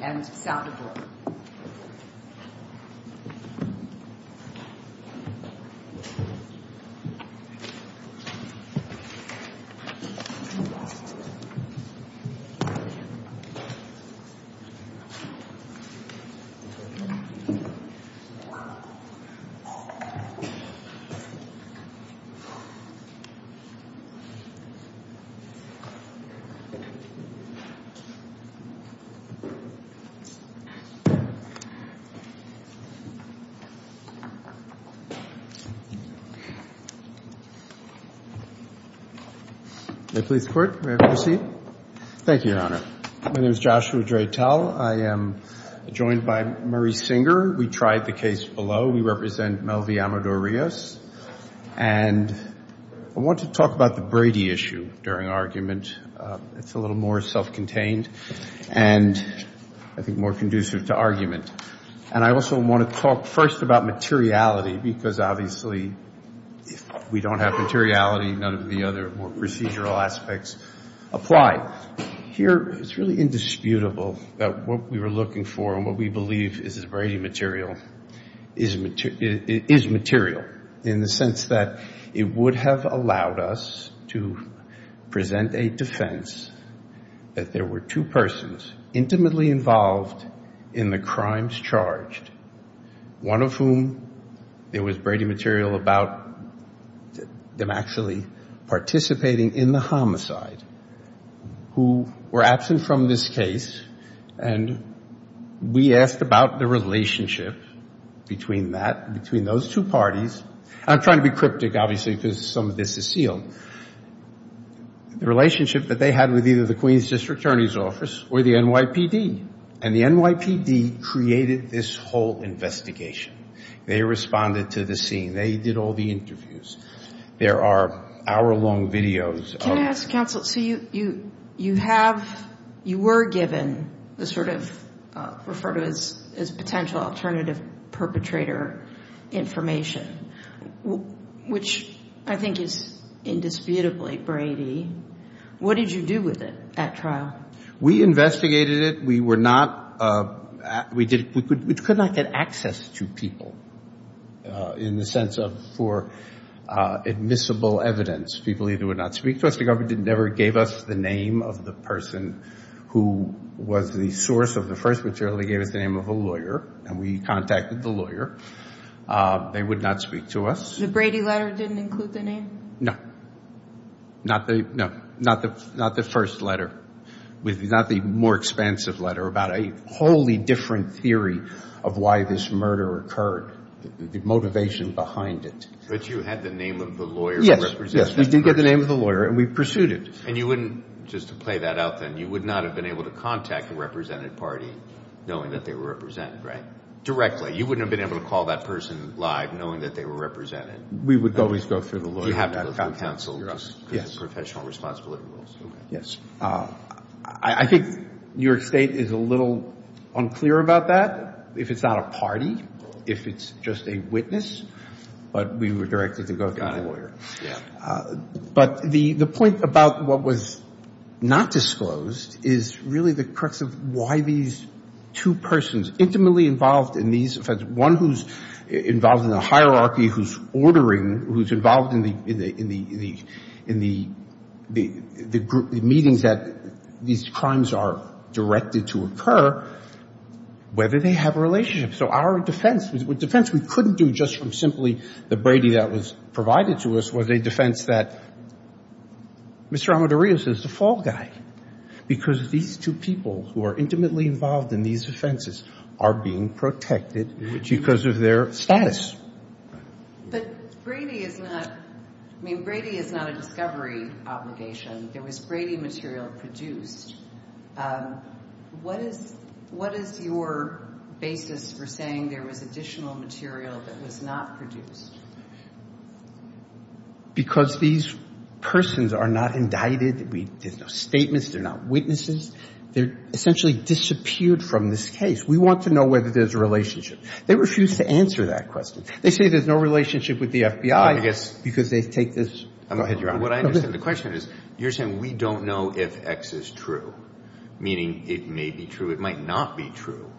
and Saldivar. Thank you, Your Honor. My name is Joshua Dreitel. I am joined by Murray Singer. We tried the case below. We represent Melvi Amador-Rios. And I want to talk about the Brady issue during argument. It's a little more self-contained and I think more conducive to argument. And I also want to talk first about materiality because obviously if we don't have materiality, none of the other more procedural aspects apply. Here it's really indisputable that what we were looking for and what we believe is Brady material is material in the sense that it would have allowed us to present a defense that there were two persons intimately involved in the crimes charged, one of whom there was Brady material about them actually participating in the homicide, who were absent from this case. And we asked about the relationship between that, between those two parties. I'm trying to be cryptic, obviously, because some of this is sealed. The relationship that they had with either the Queens District Attorney's Office or the NYPD. And the NYPD created this whole investigation. They responded to the scene. They did all the interviews. There are hour-long videos of Can I ask, counsel, so you have, you were given the sort of referred to as potential alternative perpetrator information, which I think is indisputably Brady. What did you do with it at trial? We investigated it. We were not, we did, we could not get access to people in the sense of for admissible evidence. People either would not speak to us. The government never gave us the name of the person who was the source of the first material. They gave us the name of a lawyer, and we contacted the lawyer. They would not speak to us. The Brady letter didn't include the name? No. Not the first letter. Not the more expansive letter, about a wholly different theory of why this murder occurred. The motivation behind it. But you had the name of the lawyer. Yes, we did get the name of the lawyer, and we pursued it. And you wouldn't, just to play that out then, you would not have been able to contact the represented party knowing that they were represented, right? Directly. You wouldn't have been able to call that person live knowing that they were represented. We would always go through the lawyer. You have to go through counsel. Yes. Professional responsibility rules. Yes. I think New York State is a little unclear about that, if it's not a party, if it's just a witness. But we were directed to go through the lawyer. But the point about what was not disclosed is really the crux of why these two persons, intimately involved in these offenses, one who's involved in the hierarchy, who's ordering, who's involved in the meetings that these crimes are directed to occur, whether they have a relationship. So our defense, a defense we couldn't do just from simply the Brady that was provided to us, was a defense that Mr. Amadorios is the fall guy. Because these two people who are intimately involved in these offenses are being protected because of their status. But Brady is not, I mean, Brady is not a discovery obligation. There was Brady material produced. What is, what is your basis for saying there was additional material that was not produced? Because these persons are not indicted. There's no statements. They're not witnesses. They're essentially disappeared from this case. We want to know whether there's a relationship. They refuse to answer that question. They say there's no relationship with the FBI because they take this. Go ahead, Your Honor. What I understand the question is, you're saying we don't know if X is true, meaning it may be true, it might not be true.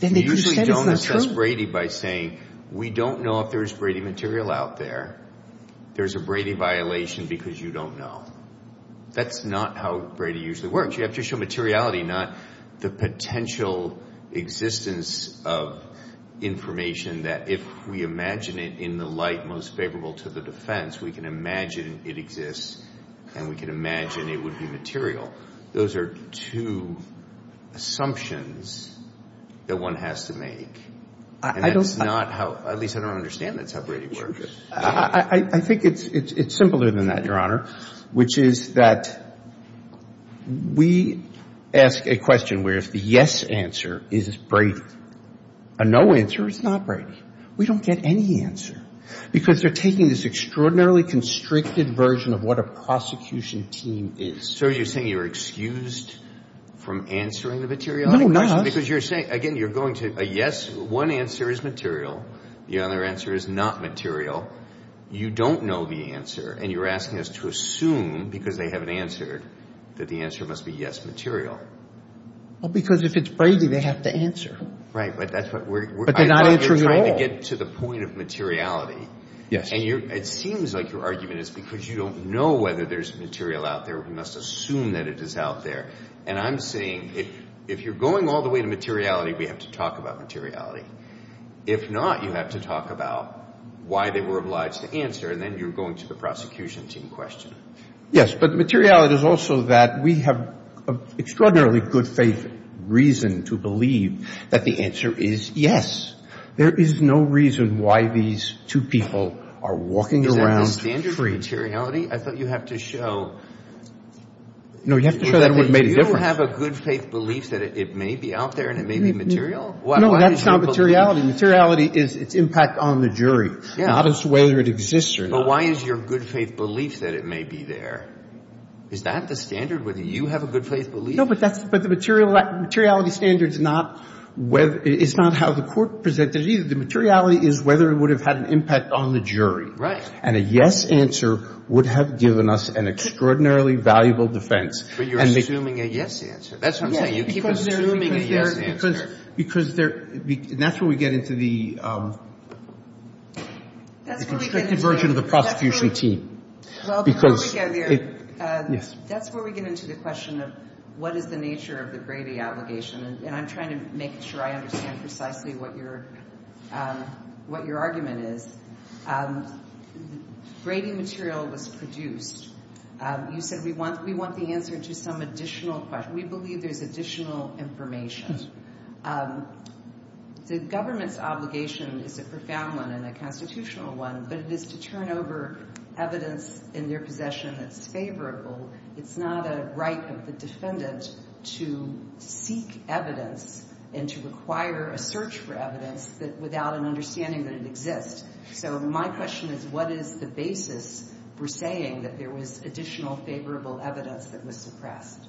You usually don't assess Brady by saying, we don't know if there's Brady material out there. There's a Brady violation because you don't know. That's not how Brady usually works. You have to show materiality, not the potential existence of information that if we imagine it in the light most favorable to the defense, we can imagine it exists and we can imagine it would be material. Those are two assumptions that one has to make. And that's not how, at least I don't understand that's how Brady works. I think it's simpler than that, Your Honor, which is that we ask a question where if the yes answer is Brady, a no answer is not Brady. We don't get any answer because they're taking this extraordinarily constricted version of what a prosecution team is. So you're saying you're excused from answering the materiality question? No, I'm not. Because you're saying, again, you're going to, yes, one answer is material. The other answer is not material. You don't know the answer and you're asking us to assume, because they haven't answered, that the answer must be yes, material. Well, because if it's Brady, they have to answer. Right, but that's what we're trying to get to the point of materiality. Yes. And it seems like your argument is because you don't know whether there's material out there, we must assume that it is out there. And I'm saying if you're going all the way to materiality, we have to talk about materiality. If not, you have to talk about why they were obliged to answer and then you're going to the prosecution team question. Yes, but materiality is also that we have an extraordinarily good faith reason to believe that the answer is yes. There is no reason why these two people are walking around free. Is that the standard of materiality? I thought you have to show that you have a good faith belief that it may be out there and it may be material? No, that's not materiality. Materiality is its impact on the jury, not as to whether it exists or not. But why is your good faith belief that it may be there? Is that the standard, whether you have a good faith belief? No, but the materiality standard is not how the court presented it either. The materiality is whether it would have had an impact on the jury. Right. And a yes answer would have given us an extraordinarily valuable defense. But you're assuming a yes answer. That's what I'm saying. You keep assuming a yes answer. Because they're, and that's where we get into the constricted version of the prosecution team. Well, before we get there, that's where we get into the question of what is the nature of the Brady obligation? And I'm trying to make sure I understand precisely what your argument is. Brady material was produced. You said we want the answer to some additional question. We believe there's additional information. The government's obligation is a profound one and a constitutional one, but it is to turn over evidence in their possession that's favorable. It's not a right of the defendant to seek evidence and to require a search for evidence without an understanding that it exists. So my question is, what is the basis for saying that there was additional favorable evidence that was suppressed?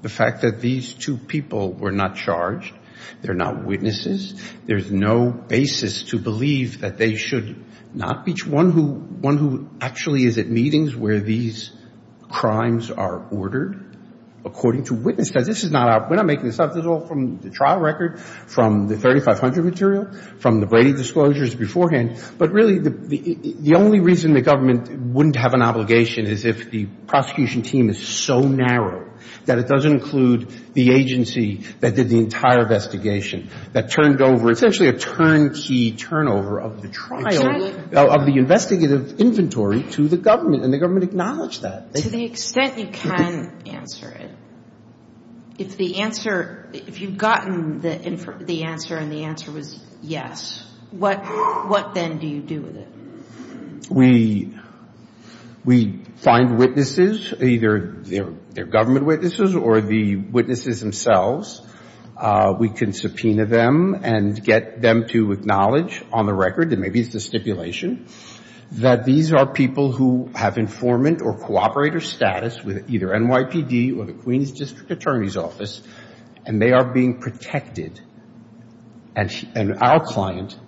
The fact that these two people were not charged, they're not witnesses, there's no basis to believe that they should not be. One who actually is at meetings where these crimes are ordered according to witnesses. This is not our, we're not making this up. This is all from the trial record, from the 3500 material, from the Brady disclosures beforehand. But really, the only reason the government wouldn't have an obligation is if the prosecution team is so narrow that it doesn't include the agency that did the entire investigation, that turned over essentially a turnkey turnover of the trial, of the investigative inventory to the government, and the government acknowledged that. To the extent you can answer it, if the answer, if you've gotten the answer and the answer was yes, what then do you do with it? We find witnesses, either they're government witnesses or the witnesses themselves. We can subpoena them and get them to acknowledge on the record, and maybe it's a stipulation, that these are people who have informant or cooperator status with either NYPD or the Queens District Attorney's Office, and they are being protected. And our client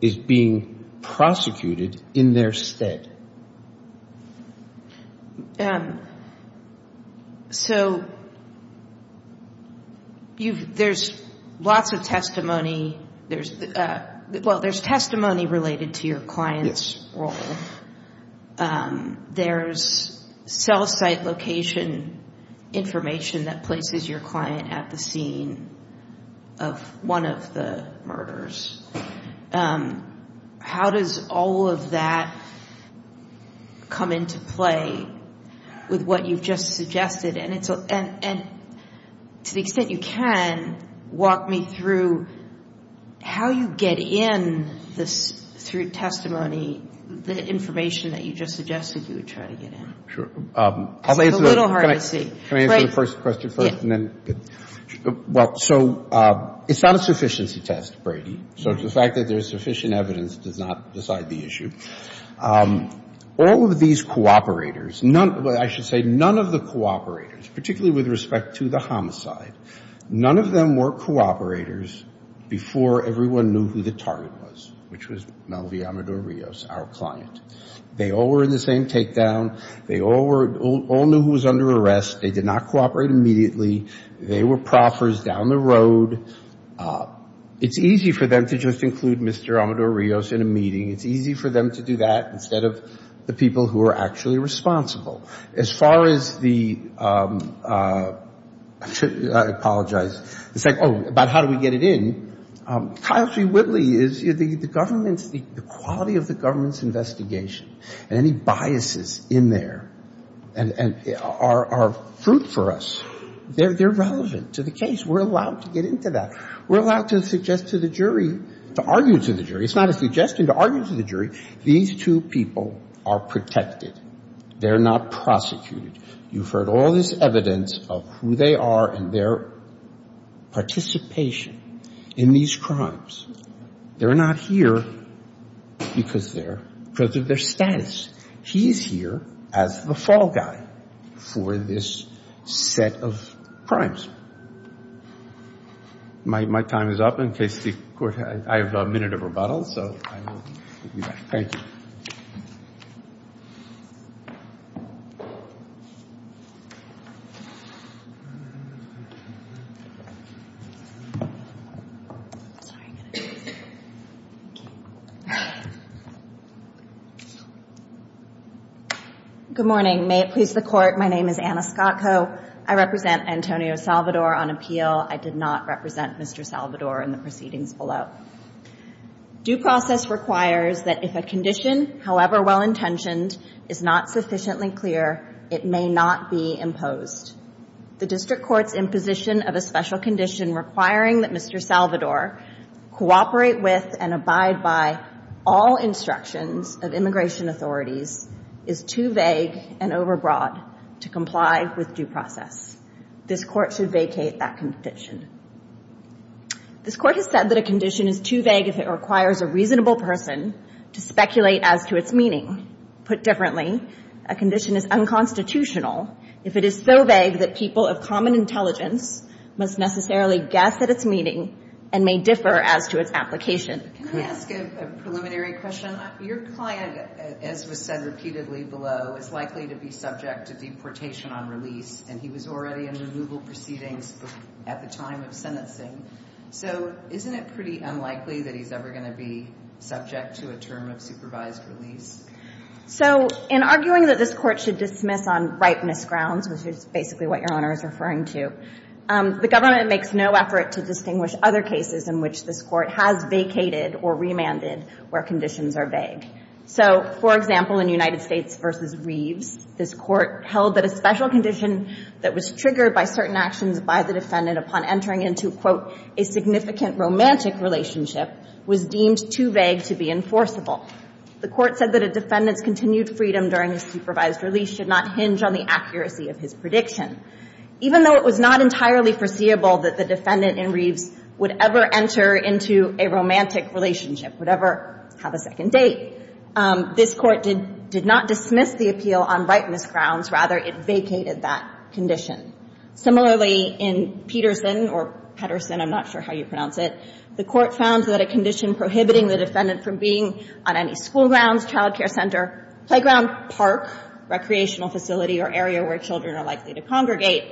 is being prosecuted in their stead. So, there's lots of testimony, there's, well, there's testimony related to your client's role. There's cell site location information that places your client at the scene of one of the murders. How does all of that, how does that relate to the case? How does that come into play with what you've just suggested? And to the extent you can, walk me through how you get in through testimony the information that you just suggested you would try to get in. It's a little hard to see. Can I answer the first question first? Well, so it's not a sufficiency test, Brady. So the fact that there's sufficient evidence does not decide the issue. All of these cooperators, I should say none of the cooperators, particularly with respect to the homicide, none of them were cooperators before everyone knew who the target was, which was Melvi Amador-Rios, our client. They all were in the same community. They were proffers down the road. It's easy for them to just include Mr. Amador-Rios in a meeting. It's easy for them to do that instead of the people who are actually responsible. As far as the, I apologize, the second, oh, about how do we get it in, Kyle T. Whitley is, the government's, the quality of the government's investigation and any biases in there are fruit for us. They're relevant to the case. We're allowed to get into that. We're allowed to suggest to the jury, to argue to the jury. It's not a suggestion to argue to the jury. These two people are protected. They're not prosecuted. You've heard all this evidence of who they are and their participation in these crimes. They're not here because they're, because of their status. He's here as the fall guy for this set of crimes. My time is up in case the court, I have a minute of rebuttal. Thank you. Good morning. May it please the court, my name is Anna Scott Coe. I represent Antonio Salvador on appeal. I did not represent Mr. Salvador in the case. The court's position on the case as I mentioned is not sufficiently clear. It may not be imposed. The district court's imposition of a special condition requiring that Mr. Salvador cooperate with and abide by all instructions of immigration authorities is too vague and overbroad to comply with due process. This court should vacate that condition. This court has said that a condition is too vague if it is put differently. A condition is unconstitutional if it is so vague that people of common intelligence must necessarily guess at its meaning and may differ as to its application. Can I ask a preliminary question? Your client, as was said repeatedly below, is likely to be subject to deportation on release and he was already in removal proceedings at the time of sentencing. So isn't it pretty unlikely that he's ever going to be subject to a term of supervised release? So, in arguing that this court should dismiss on ripeness grounds, which is basically what your Honor is referring to, the government makes no effort to distinguish other cases in which this court has vacated or remanded where conditions are vague. So, for example, in United States v. Reeves, this court held that a special condition that was triggered by certain actions by the defendant upon entering into, quote, a significant romantic relationship would be unconstitutional. It was deemed too vague to be enforceable. The court said that a defendant's continued freedom during a supervised release should not hinge on the accuracy of his prediction. Even though it was not entirely foreseeable that the defendant in Reeves would ever enter into a romantic relationship, would ever have a second date, this court did not dismiss the appeal on ripeness grounds. Rather, it vacated that condition. Similarly, in Peterson, or Petterson, I'm not sure how you pronounce it, the court found that a condition for which the defendant was not permitted to enter into prohibiting the defendant from being on any school grounds, child care center, playground, park, recreational facility, or area where children are likely to congregate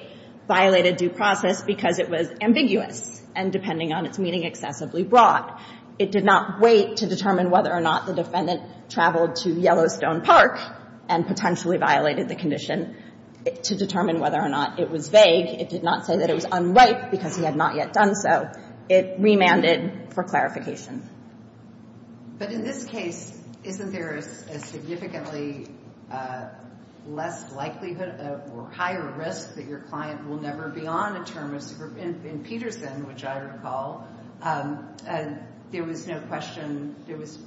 violated due process because it was ambiguous and depending on its meaning, excessively broad. It did not wait to determine whether or not the defendant traveled to Yellowstone Park and potentially violated the condition to determine whether or not it was vague. It did not say that it was unripe because he had not yet done so. It remanded for clarification. But in this case, isn't there a significantly less likelihood or higher risk that your client will never be on a term of supervision? In Peterson, which I recall, there was no question, there was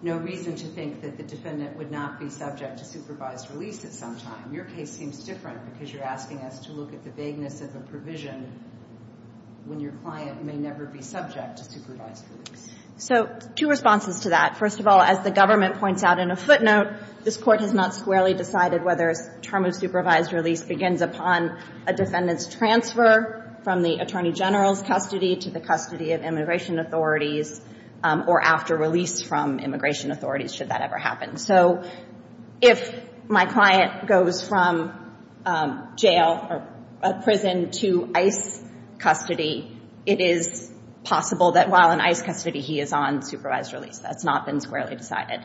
no reason to think that the defendant would not be subject to supervised release at some time. Your case seems different because you're asking us to look at the vagueness of a provision that says that your client may never be subject to supervised release. So two responses to that. First of all, as the government points out in a footnote, this Court has not squarely decided whether a term of supervised release begins upon a defendant's transfer from the attorney general's custody to the custody of immigration authorities or after release from immigration authorities, should that ever happen. So if my client goes from jail or prison to ICE custody, it is possible that while in ICE custody, he is on supervised release. That's not been squarely decided.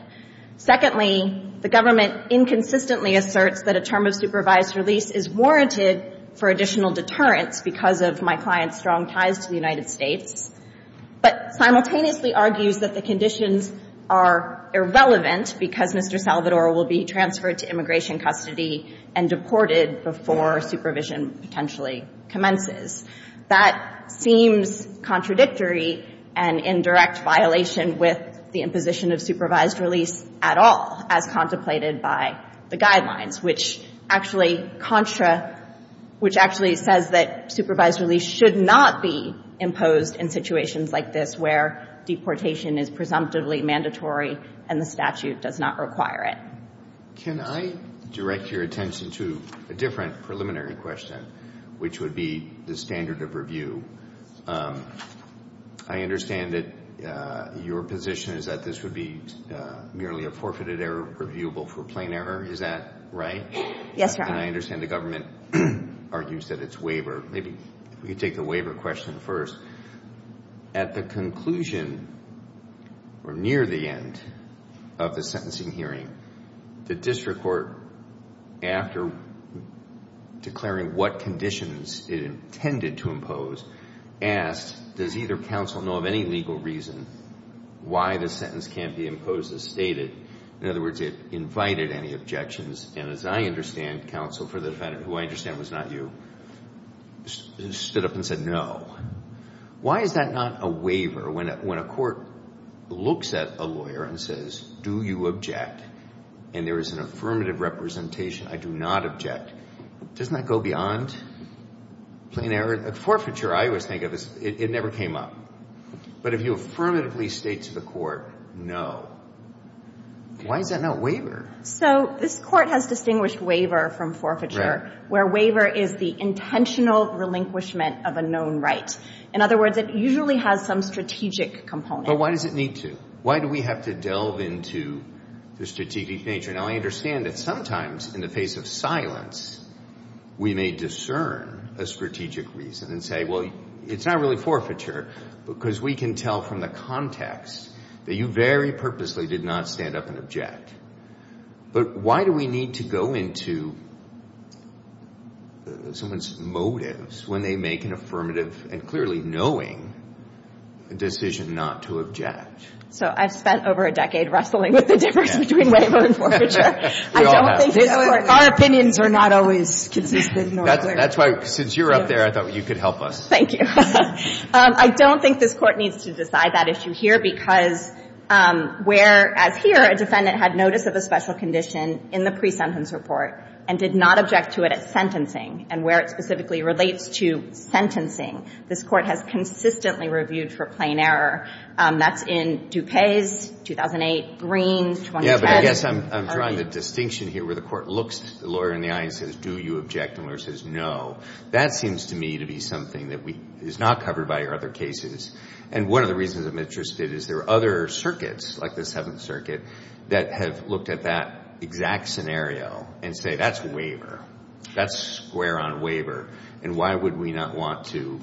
Secondly, the government inconsistently asserts that a term of supervised release is warranted for additional deterrence because of my client's strong ties to the United States, but simultaneously argues that the conditions are irrelevant because Mr. Salvador will be transferred to immigration custody and deported before supervision potentially commences. So that seems contradictory and in direct violation with the imposition of supervised release at all, as contemplated by the guidelines, which actually contra — which actually says that supervised release should not be imposed in situations like this where deportation is presumptively mandatory and the statute does not require it. Can I direct your attention to a different preliminary question, which would be the standard of review? I understand that your position is that this would be merely a forfeited error, reviewable for plain error. Is that right? Yes, Your Honor. And I understand the government argues that it's waiver. Maybe if we could take the waiver question first. At the conclusion, or near the end of the sentencing hearing, the district court, after declaring what conditions it intended to impose, asked, does either counsel know of any legal reason why the sentence can't be imposed as stated? In other words, it invited any objections. And as I understand, counsel, for the defendant, who I understand was not you, stood up and said no. Why is that not a waiver? When a court looks at a lawyer and says, do you object, and there is an affirmative representation, I do not object, doesn't that go beyond plain error? Forfeiture, I always think of, it never came up. But if you affirmatively state to the court, no, why is that not waiver? So this court has distinguished waiver from forfeiture, where waiver is the intentional relinquishment of a known right. In other words, it usually has some strategic component. But why does it need to? Why do we have to delve into the strategic nature? Now, I understand that sometimes in the face of silence, we may discern a strategic reason and say, well, it's not really forfeiture, because we can tell from the context that you very purposely did not stand up and object. But why do we need to go into someone's motives when they make an affirmative and conclusive statement? Clearly knowing the decision not to object. So I've spent over a decade wrestling with the difference between waiver and forfeiture. Our opinions are not always consistent. That's why, since you're up there, I thought you could help us. Thank you. I don't think this Court needs to decide that issue here, because where, as here, a defendant had notice of a special condition in the pre-sentence report and did not object to it at sentencing, and where it specifically relates to sentencing, this Court has consistently reviewed for plain error. That's in DuPage's 2008, Green's 2010. Yeah, but I guess I'm drawing the distinction here where the Court looks the lawyer in the eye and says, do you object? And the lawyer says, no. That seems to me to be something that is not covered by your other cases. And one of the reasons I'm interested is there are other circuits, like the Seventh Circuit, that have looked at that exact scenario and say, that's waiver. That's square on waiver. And why would we not want to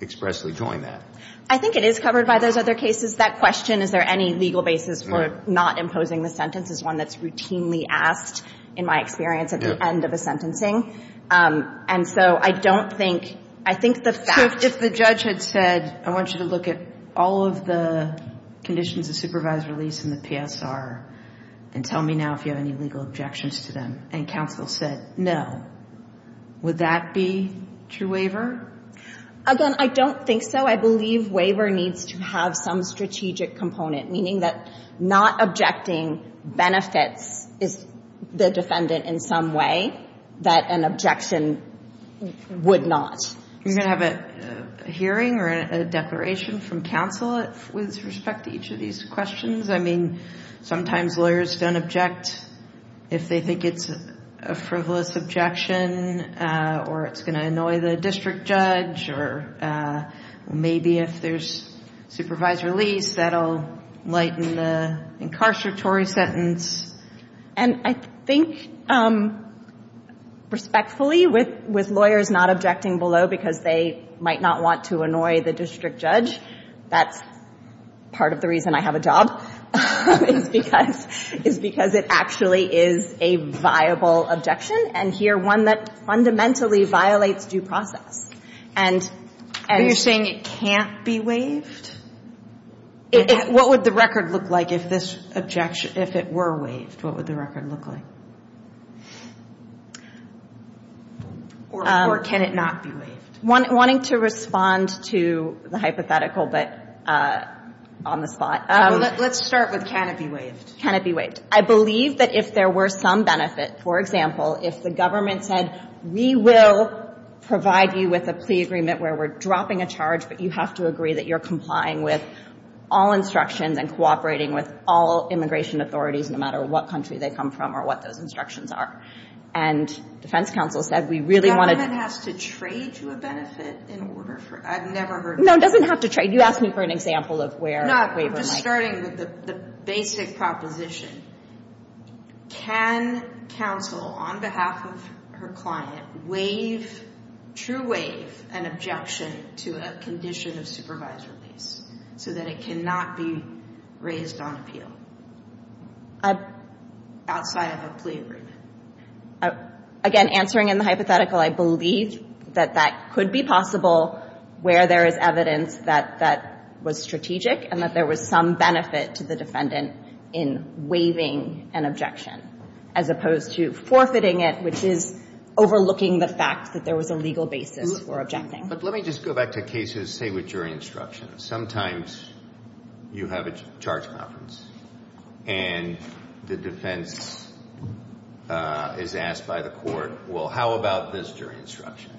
expressly join that? I think it is covered by those other cases. That question, is there any legal basis for not imposing the sentence, is one that's routinely asked, in my experience, at the end of a sentencing. And so I don't think, I think the fact... If the judge had said, I want you to look at all of the conditions of supervised release in the PSR, and tell me now if you have any legal objections to them, and counsel said, no, would that be true waiver? Again, I don't think so. I believe waiver needs to have some strategic component, meaning that not objecting benefits is the defendant in some way that an objection would not. You're going to have a hearing or a declaration from counsel with respect to each of these questions? I mean, sometimes lawyers don't object if they think it's a frivolous objection, or it's going to annoy the district judge, or maybe if there's supervised release, that'll lighten the incarceratory sentence. And I think, respectfully, with lawyers not objecting below the minimum sentence, I think it would be a good idea to have a waiver because they might not want to annoy the district judge. That's part of the reason I have a job, is because it actually is a viable objection, and here, one that fundamentally violates due process. And... Are you saying it can't be waived? What would the record look like if this objection, if it were waived? What would the record look like? Or can it not be waived? Wanting to respond to the hypothetical, but on the spot. Let's start with can it be waived? Can it be waived? I believe that if there were some benefit, for example, if the government said, we will provide you with a plea agreement where we're dropping a charge, but you have to agree that you're complying with all instructions and cooperating with all immigration authorities, no matter what country they come from or what those instructions are. And defense counsel said, we really want to... The government has to trade you a benefit in order for... I've never heard... No, it doesn't have to trade. You asked me for an example of where a waiver might... No, I'm just starting with the basic proposition. Can counsel, on behalf of her client, waive, true waive, an objection to a condition of supervised release, so that it cannot be raised on appeal? Outside of a plea agreement? Again, answering in the hypothetical, I believe that that could be possible where there is evidence that that was strategic and that there was some benefit to the defendant in waiving an objection, as opposed to forfeiting it, which is overlooking the fact that there was a legal basis for objecting. But let me just go back to cases, say, with jury instruction. Sometimes you have a charge conference. And the defense is asked by the court, well, how about this jury instruction?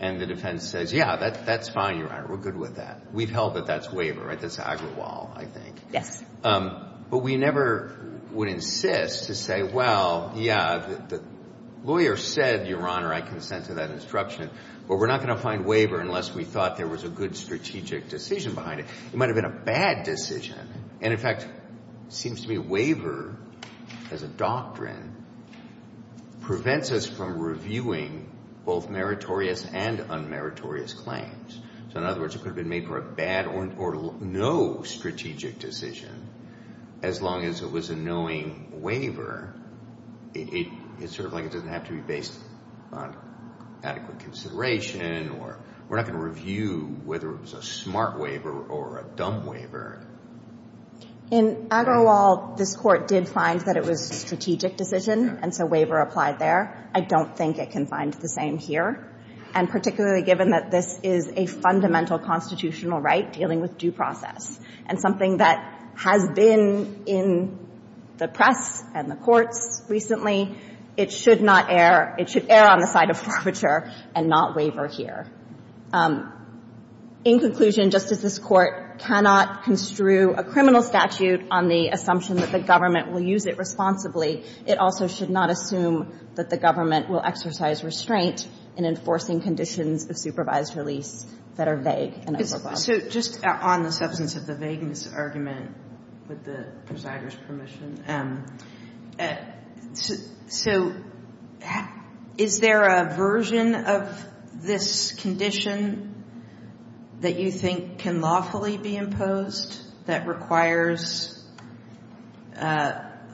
And the defense says, yeah, that's fine, Your Honor. We're good with that. We've held that that's waiver, right? That's Agrawal, I think. But we never would insist to say, well, yeah, the lawyer said, Your Honor, I consent to that instruction, but we're not going to find waiver unless we thought there was a good strategic decision behind it. It might have been a bad decision, and in fact, it seems to me a waiver, as a doctrine, prevents us from reviewing both meritorious and unmeritorious claims. So in other words, it could have been made for a bad or no strategic decision, as long as it was a knowing waiver. It's sort of like it doesn't have to be based on adequate consideration, or we're not going to review whether it was a smart waiver or not. It could have been made for a dumb waiver. In Agrawal, this Court did find that it was a strategic decision, and so waiver applied there. I don't think it can find the same here. And particularly given that this is a fundamental constitutional right dealing with due process, and something that has been in the press and the courts recently, it should not err, it should err on the side of forfeiture and not waiver here. In conclusion, just as this Court cannot construe a criminal statute on the assumption that the government will use it responsibly, it also should not assume that the government will exercise restraint in enforcing conditions of supervised release that are vague in Agrawal. So just on the substance of the vagueness argument, with the presider's permission, so is there a version of this condition? That you think can lawfully be imposed that requires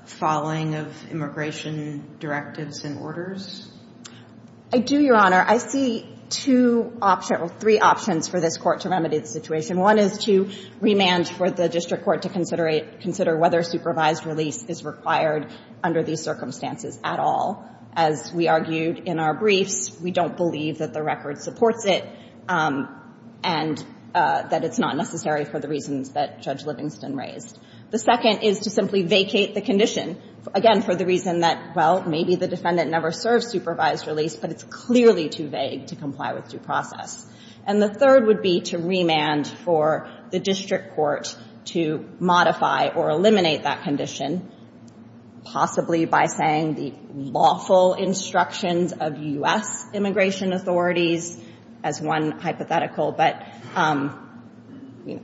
following of immigration directives and orders? I do, Your Honor. I see two options, three options for this Court to remedy the situation. One is to remand for the district court to consider whether supervised release is required under these circumstances at all. As we argued in our briefs, we don't believe that the record supports it, and that it's not necessary for the reasons that Judge Livingston raised. The second is to simply vacate the condition, again, for the reason that, well, maybe the defendant never served supervised release, but it's clearly too vague to comply with due process. And the third would be to remand for the district court to modify or eliminate that condition, possibly by saying the lawfully required condition. I would follow the lawful instructions of U.S. immigration authorities, as one hypothetical, but I'm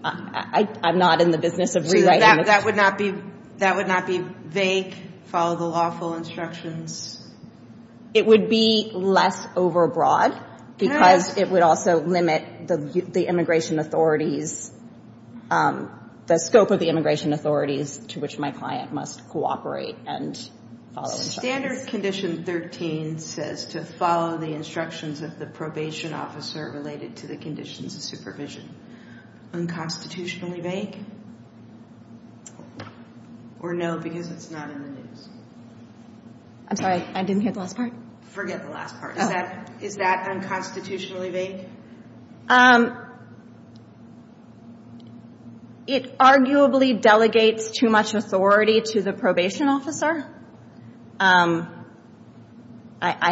not in the business of rewriting it. So that would not be vague, follow the lawful instructions? It would be less overbroad, because it would also limit the scope of the immigration authorities to which my client must cooperate and follow instructions. Section 13 says to follow the instructions of the probation officer related to the conditions of supervision. Unconstitutionally vague, or no, because it's not in the news? I'm sorry, I didn't hear the last part. Forget the last part. Is that unconstitutionally vague? I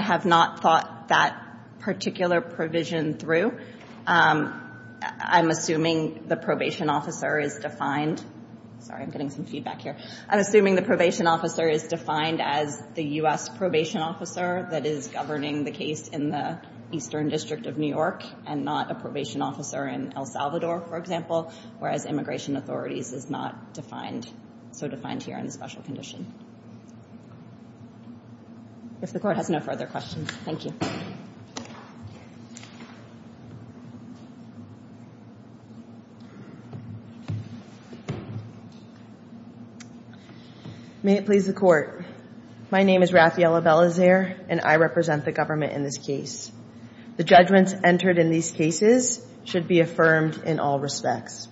have not thought that particular provision through. I'm assuming the probation officer is defined. Sorry, I'm getting some feedback here. I'm assuming the probation officer is defined as the U.S. probation officer that is governing the case in the Eastern District of New York, and not a probation officer in El Salvador, for example, whereas immigration authorities is not so defined here in the special condition. Thank you. May it please the Court. My name is Raffaella Bellazer, and I represent the government in this case. The judgments entered in these cases should be affirmed in all respects.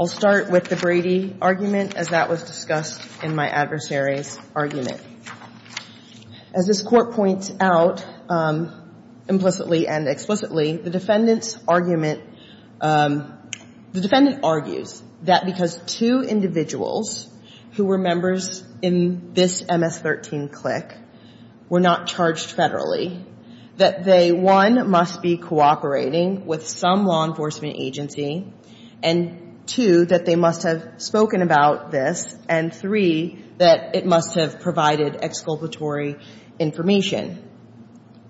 I'll start with the Brady argument, as that was discussed in my adversary's argument. As this Court points out implicitly and explicitly, the defendant's argument, the defendant argues that because two individuals who were members in this MS-13 CLIC were not charged federally, that they, one, must be cooperating with some law enforcement agency, and, two, that they must have spoken about this, and, three, that it must have provided exculpatory information.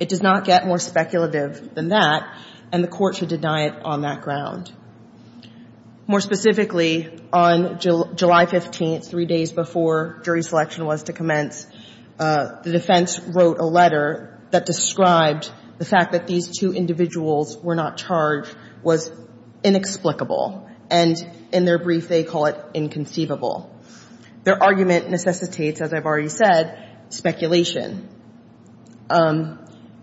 It does not get more speculative than that, and the Court should deny it on that ground. More specifically, on July 15th, three days before jury selection was to commence, the defense wrote a letter that described the fact that these two individuals were not charged was inexplicable, and in their brief they call it inconceivable. Their argument necessitates, as I've already said, speculation.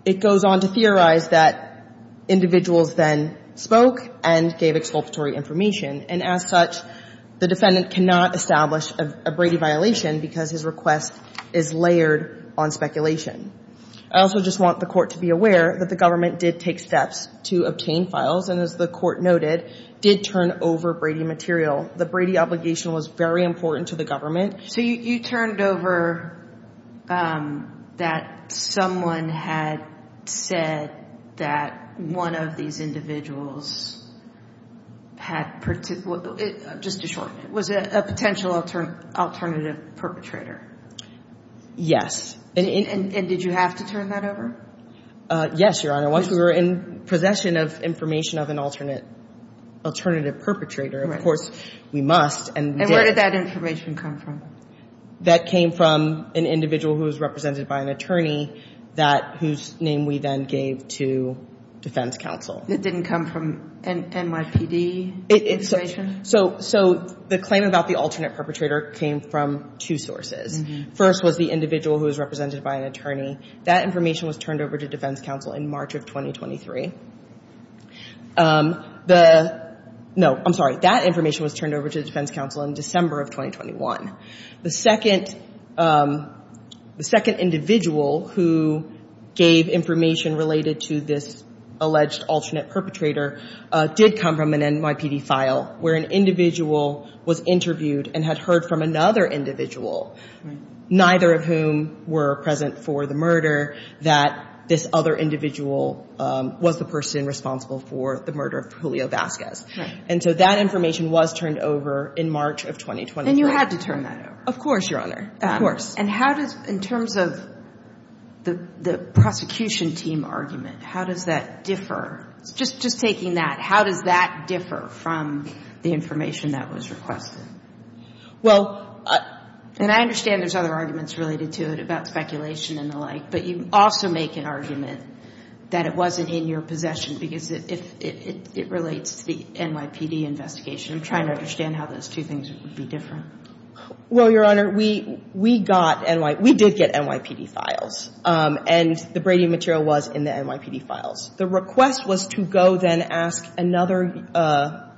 It goes on to theorize that individuals then spoke and gave exculpatory information, and as such, the defendant cannot establish a Brady violation because his request is layered on speculation. I also just want the Court to be aware that the government did take steps to obtain files, and as the Court noted, did turn over Brady material. The Brady obligation was very important to the government. So you turned over that someone had said that one of these individuals had, just to shorten it, was a potential alternative perpetrator? Yes. And did you have to turn that over? Yes, Your Honor. Once we were in possession of information of an alternative perpetrator, of course, we must. And where did that information come from? That came from an individual who was represented by an attorney whose name we then gave to defense counsel. It didn't come from NYPD information? So the claim about the alternate perpetrator came from two sources. First was the individual who was represented by an attorney. That information was turned over to defense counsel in March of 2023. No, I'm sorry. That information was turned over to defense counsel in December of 2021. The second individual who gave information related to this alleged alternate perpetrator did come from an NYPD file where an individual was interviewed and had heard from another individual, neither of whom were present for the murder, that this other individual was the person responsible for the murder of Julio Vasquez. And so that information was turned over in March of 2023. And you had to turn that over? Of course, Your Honor. And how does, in terms of the prosecution team argument, how does that differ? Just taking that, how does that differ from the information that was requested? Well, and I understand there's other arguments related to it about speculation and the like, but you also make an argument that it wasn't in your possession because it relates to the NYPD investigation. I'm trying to understand how those two things would be different. Well, Your Honor, we did get NYPD files, and the Brady material was in the NYPD files. The request was to go then ask another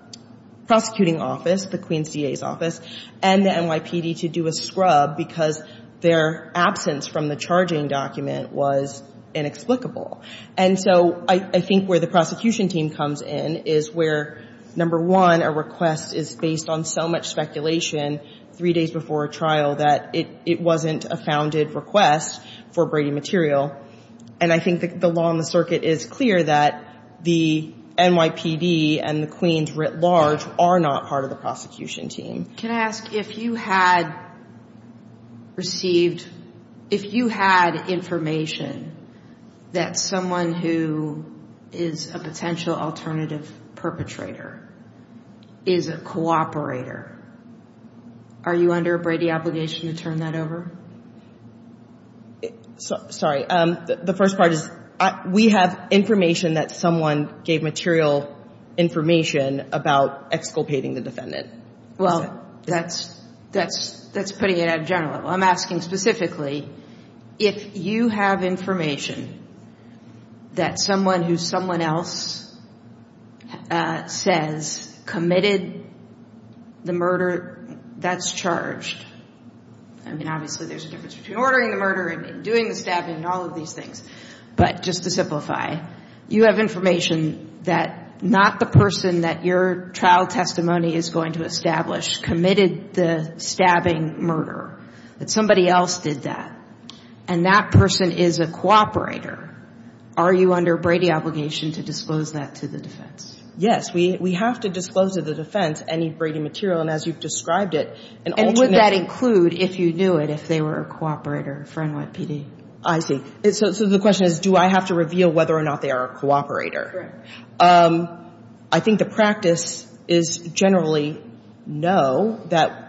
prosecuting office, the Queens DA's office, and the NYPD to do a scrub because their absence from the charging document was inexplicable. And so I think where the prosecution team comes in is where, number one, a request is based on so much speculation three days before a trial that it wasn't a founded request for Brady material. And I think the law on the circuit is clear that the NYPD and the Queens writ large are not part of the prosecution team. Can I ask, if you had received, if you had information that someone who is a potential alternative perpetrator, is a cooperator, are you under a Brady obligation to turn that over? Sorry. The first part is, we have information that someone gave material information about exculpating the defendant. Well, that's putting it out of general. I'm asking specifically, if you have information that someone who's someone else says committed a crime, committed the murder, that's charged. I mean, obviously there's a difference between ordering the murder and doing the stabbing and all of these things. But just to simplify, you have information that not the person that your trial testimony is going to establish committed the stabbing murder, that somebody else did that, and that person is a cooperator. Are you under a Brady obligation to disclose that to the defense? Yes. We have to disclose to the defense any Brady material. And as you've described it, an alternate... And would that include, if you knew it, if they were a cooperator for NYPD? I see. So the question is, do I have to reveal whether or not they are a cooperator? I think the practice is generally no, that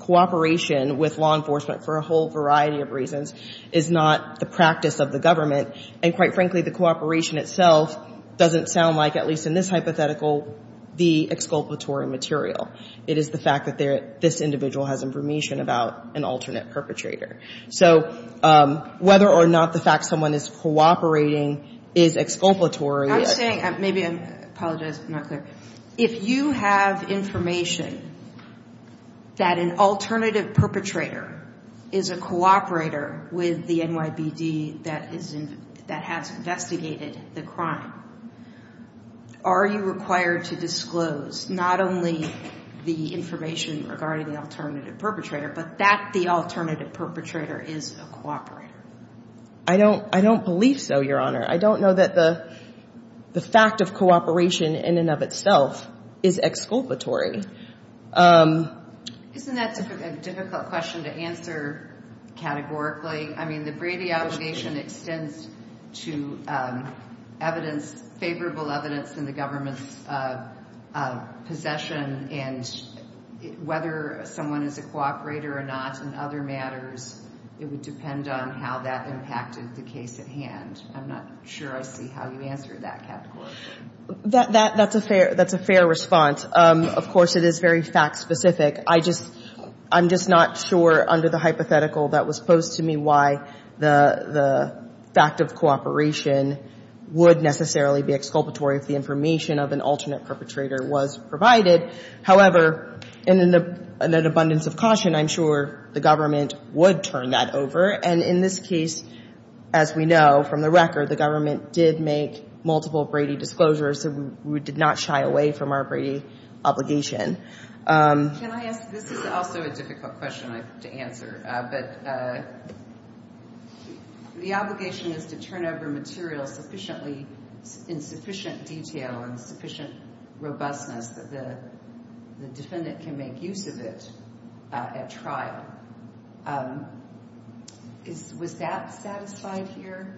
cooperation with law enforcement for a whole variety of reasons is not the practice of the government. And quite frankly, the cooperation itself doesn't sound like, at least in this hypothetical, the exculpatory material. It is the fact that this individual has information about an alternate perpetrator. So whether or not the fact someone is cooperating is exculpatory... I'm saying, maybe I'm apologizing if I'm not clear, if you have information that an alternative perpetrator is a cooperator with the NYPD that is an alternate perpetrator, that has investigated the crime, are you required to disclose not only the information regarding the alternative perpetrator, but that the alternative perpetrator is a cooperator? I don't believe so, Your Honor. I don't know that the fact of cooperation in and of itself is exculpatory. Isn't that a difficult question to answer categorically? I mean, the Brady Obligation extends to evidence, favorable evidence in the government's possession, and whether someone is a cooperator or not in other matters, it would depend on how that impacted the case at hand. I'm not sure I see how you answered that categorically. That's a fair response. Of course, it is very fact-specific. I'm just not sure under the hypothetical that was posed to me why the fact of cooperation would necessarily be exculpatory if the information of an alternate perpetrator was provided. However, in an abundance of caution, I'm sure the government would turn that over. And in this case, as we know from the record, the government did make multiple Brady disclosures, so we did not shy away from our Brady Obligation. Can I ask, this is also a difficult question to answer, but the obligation is to turn over material in sufficient detail and sufficient robustness that the defendant can make use of it at trial. Was that satisfied here?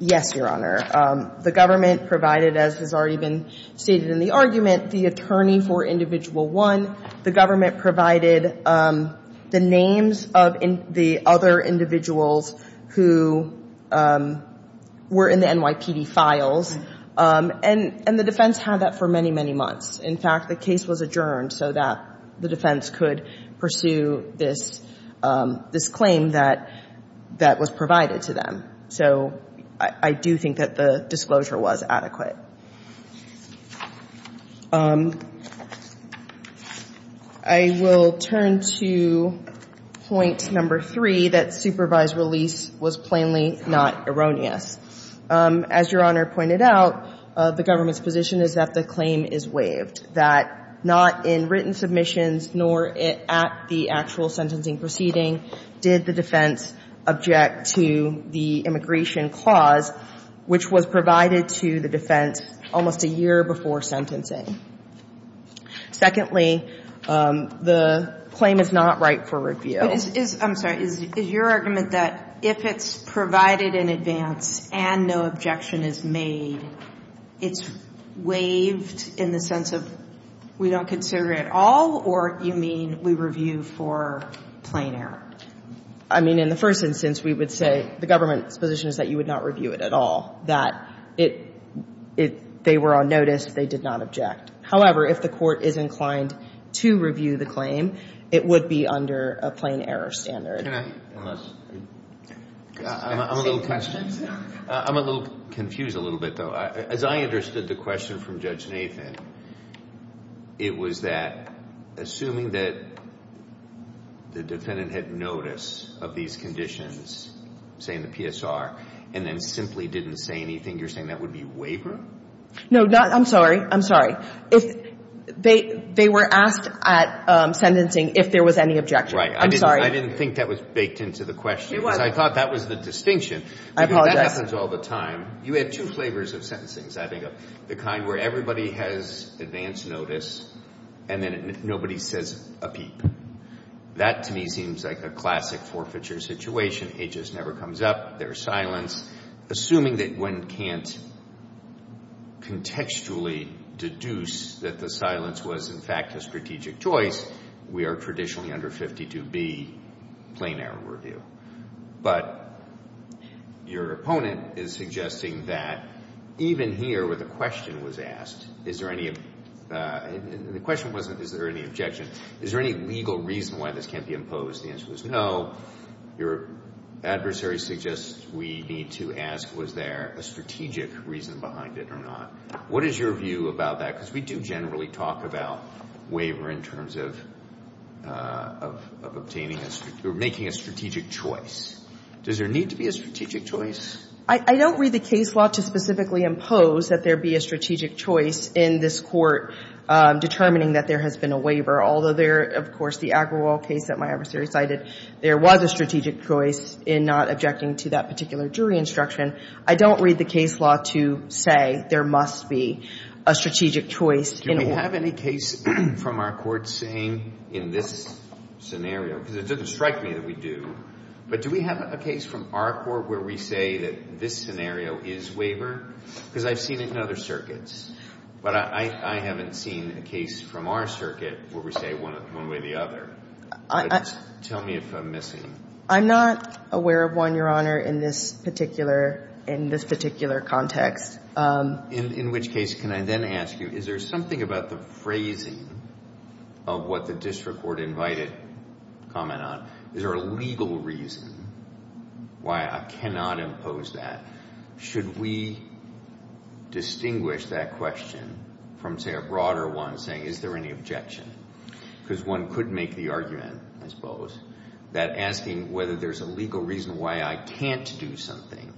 Yes, Your Honor. The government provided, as has already been stated in the argument, the attorney for Individual 1. The government provided the names of the other individuals who were in the NYPD files, and the defense had that for many, many months. In fact, the case was adjourned so that the defense could pursue this claim that was provided to them. So I do think that the disclosure was adequate. I will turn to point number three, that supervised release was plainly not erroneous. As Your Honor pointed out, the government's position is that the claim is waived, that not in written submissions nor at the actual sentencing proceeding did the defense object to the immigration clause, which was provided to the defense almost a year before sentencing. Secondly, the claim is not right for review. I'm sorry, is your argument that if it's provided in advance and no objection is made, it's waived in the sense of we don't consider it at all, or you mean we review for plain error? I mean, in the first instance, we would say the government's position is that you would not review it at all, that they were on notice, they did not object. However, if the court is inclined to review the claim, it would be under a plain error standard. Can I? I'm a little confused a little bit, though. As I understood the question from Judge Nathan, it was that assuming that the defendant had notice of these conditions, say in the PSR, and then simply didn't say anything, you're saying that would be waiver? No, I'm sorry. I'm sorry. They were asked at sentencing if there was any objection. Right. I'm sorry. I didn't think that was baked into the question. It was. Because I thought that was the distinction. I apologize. That happens all the time. You had two flavors of sentencing, I think, the kind where everybody has advance notice and then nobody says a peep. That, to me, seems like a classic forfeiture situation. HS never comes up. There is silence. Assuming that one can't contextually deduce that the silence was, in fact, a strategic choice, we are traditionally under 52B, plain error review. But your opponent is suggesting that even here where the question was asked, the question wasn't is there any objection, is there any legal reason why this can't be imposed? The answer was no. Your adversary suggests we need to ask was there a strategic reason behind it or not. What is your view about that? Because we do generally talk about waiver in terms of obtaining or making a strategic choice. Does there need to be a strategic choice? I don't read the case law to specifically impose that there be a strategic choice in this Court determining that there has been a waiver, although there, of course, the Agrawal case that my adversary cited, there was a strategic choice in not objecting to that particular jury instruction. I don't read the case law to say there must be a strategic choice in a waiver. Do we have any case from our Court saying in this scenario, because it doesn't strike me that we do, but do we have a case from our Court where we say that this scenario is waiver? Because I've seen it in other circuits. But I haven't seen a case from our circuit where we say one way or the other. Tell me if I'm missing. I'm not aware of one, Your Honor, in this particular context. In which case can I then ask you, is there something about the phrasing of what the district court invited comment on? Is there a legal reason why I cannot impose that? Should we distinguish that question from, say, a broader one saying is there any objection? Because one could make the argument, I suppose, that asking whether there's a legal reason why I can't do something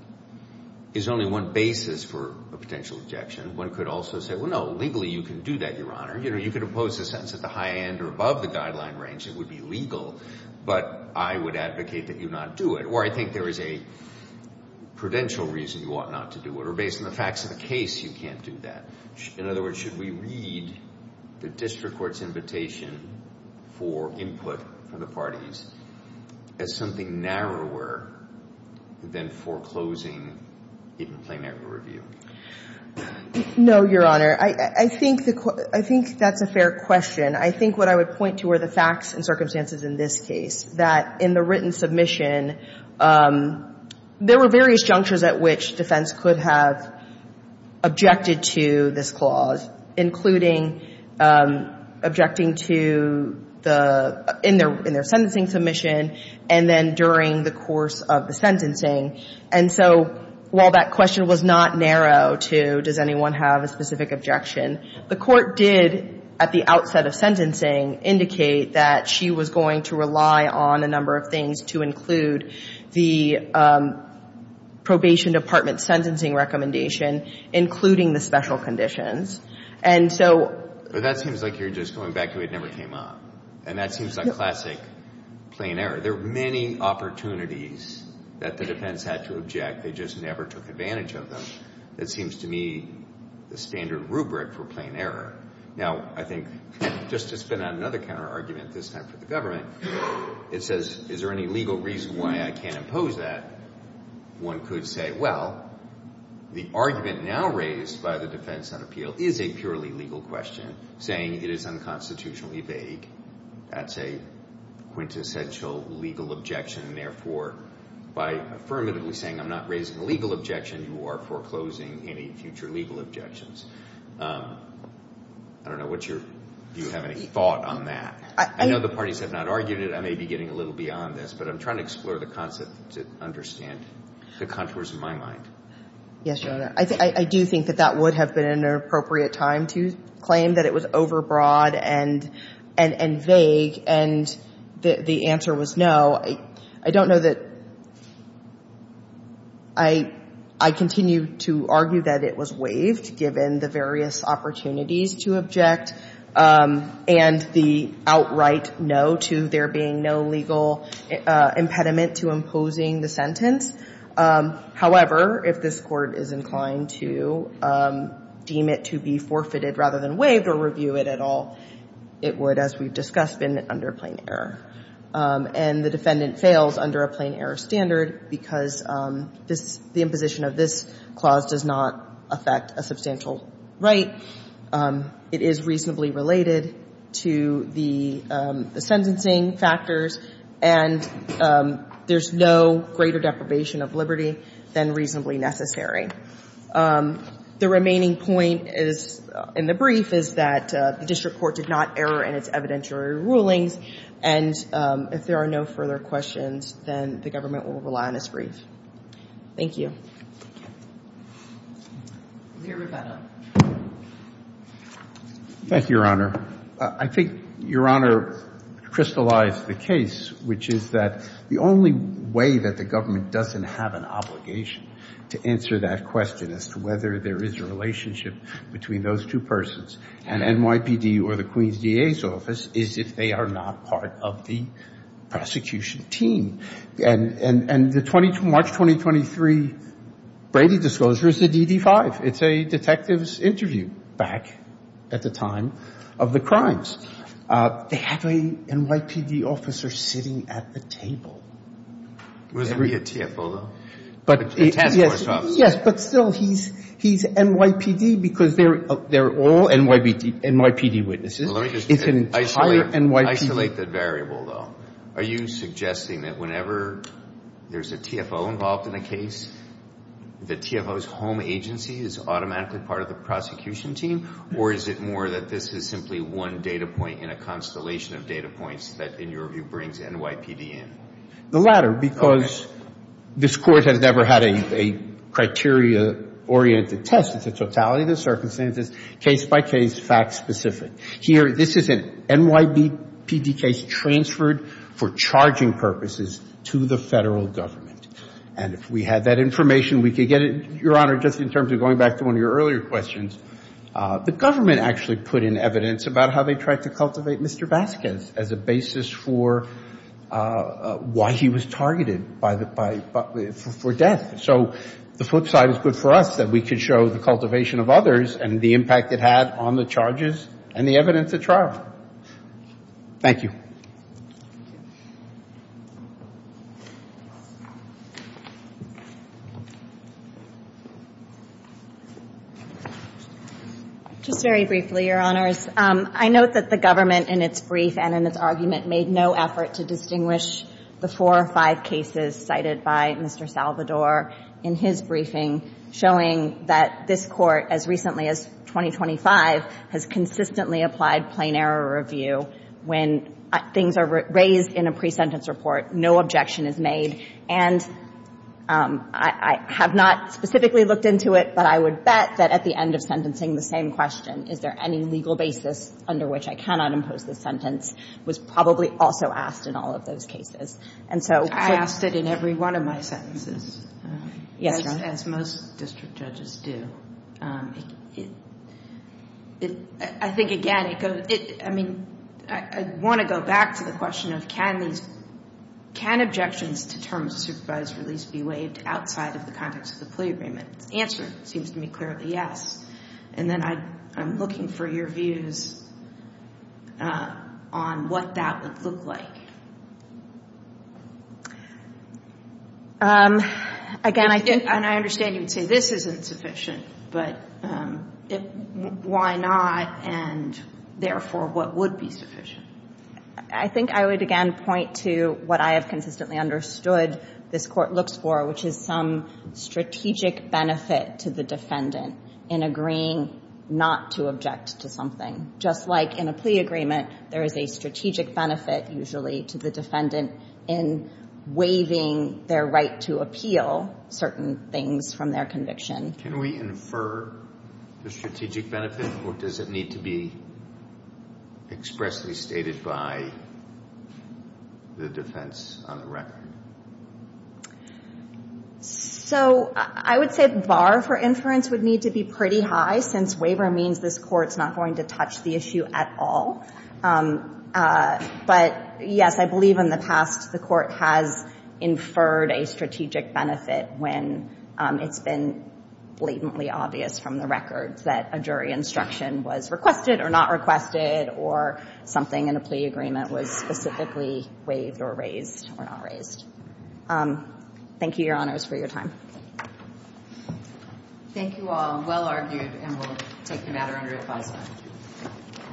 is only one basis for a potential objection. One could also say, well, no, legally you can do that, Your Honor. You could impose a sentence at the high end or above the guideline range. It would be legal. But I would advocate that you not do it. Or I think there is a prudential reason you ought not to do it. Or based on the facts of the case, you can't do that. In other words, should we read the district court's invitation for input from the parties as something narrower than foreclosing even plain equity review? No, Your Honor. I think that's a fair question. I think what I would point to are the facts and circumstances in this case, that in the written submission there were various junctures at which defense could have objected to this clause, including objecting to the – in their sentencing submission and then during the course of the sentencing. And so while that question was not narrow to does anyone have a specific objection, the court did at the outset of sentencing indicate that she was going to rely on a number of things to include the probation department's sentencing recommendation, including the special conditions. And so – But that seems like you're just going back to it never came up. And that seems like classic plain error. There are many opportunities that the defense had to object. They just never took advantage of them. That seems to me the standard rubric for plain error. Now, I think just to spin out another counterargument, this time for the government, it says is there any legal reason why I can't impose that? One could say, well, the argument now raised by the defense on appeal is a purely legal question, saying it is unconstitutionally vague. That's a quintessential legal objection. And therefore, by affirmatively saying I'm not raising a legal objection, you are foreclosing any future legal objections. I don't know what your – do you have any thought on that? I know the parties have not argued it. I may be getting a little beyond this, but I'm trying to explore the concept to understand the contours of my mind. Yes, Your Honor. I do think that that would have been an appropriate time to claim that it was overbroad and vague. And the answer was no. I don't know that – I continue to argue that it was waived, given the various opportunities to object and the outright no to there being no legal impediment to imposing the sentence. However, if this Court is inclined to deem it to be forfeited rather than waived or review it at all, it would, as we've discussed, have been under a plain error. And the defendant fails under a plain error standard because this – the imposition of this clause does not affect a substantial right. It is reasonably related to the sentencing factors, and there's no greater deprivation of liberty than reasonably necessary. The remaining point in the brief is that the district court did not err in its evidentiary rulings, and if there are no further questions, then the government will rely on its brief. Thank you. Thank you. Mr. Rivera. Thank you, Your Honor. I think Your Honor crystallized the case, which is that the only way that the government doesn't have an obligation to answer that question as to whether there is a relationship between those two persons, an NYPD or the Queens DA's office, is if they are not part of the prosecution team. And the March 2023 Brady disclosure is the DD-5. It's a detective's interview back at the time of the crimes. They have a NYPD officer sitting at the table. Was he a TFO, though? Yes, but still, he's NYPD because they're all NYPD witnesses. Isolate that variable, though. Are you suggesting that whenever there's a TFO involved in a case, the TFO's home agency is automatically part of the prosecution team, or is it more that this is simply one data point in a constellation of data points that, in your view, brings NYPD in? The latter, because this Court has never had a criteria-oriented test. It's a totality of the circumstances, case-by-case, fact-specific. Here, this is an NYPD case transferred for charging purposes to the Federal Government. And if we had that information, we could get it, Your Honor, just in terms of going back to one of your earlier questions. The government actually put in evidence about how they tried to cultivate Mr. Vasquez as a basis for why he was targeted for death. So the flip side is good for us, that we could show the cultivation of others and the impact it had on the charges and the evidence at trial. Thank you. Just very briefly, Your Honors. I note that the government, in its brief and in its argument, made no effort to distinguish the four or five cases cited by Mr. Salvador in his briefing, showing that this Court, as recently as 2025, has consistently applied plain error review. When things are raised in a pre-sentence report, no objection is made. And I have not specifically looked into it, but I would bet that at the end of sentencing, the same question, is there any legal basis under which I cannot impose this sentence, was probably also asked in all of those cases. And so sort of. I asked it in every one of my sentences. Yes, Your Honor. As most district judges do. I think, again, it goes, I mean, I want to go back to the question of can these can objections to terms of supervised release be waived outside of the context of the plea agreement? The answer seems to me clearly yes. And then I'm looking for your views on what that would look like. Again, I think. And I understand you would say this isn't sufficient, but why not? And therefore, what would be sufficient? I think I would, again, point to what I have consistently understood this Court looks for, which is some strategic benefit to the defendant in agreeing not to object to something. Just like in a plea agreement, there is a strategic benefit, usually, to the defendant in waiving their right to appeal certain things from their conviction. Can we infer the strategic benefit? Or does it need to be expressly stated by the defense on the record? So I would say the bar for inference would need to be pretty high, since waiver means this Court is not going to touch the issue at all. But yes, I believe in the past the Court has inferred a strategic benefit when it's been blatantly obvious from the record that a jury instruction was requested or not requested, or something in a plea agreement was specifically waived or raised or not raised. Thank you, Your Honors, for your time. Thank you all. Well argued, and we'll take the matter under advisement.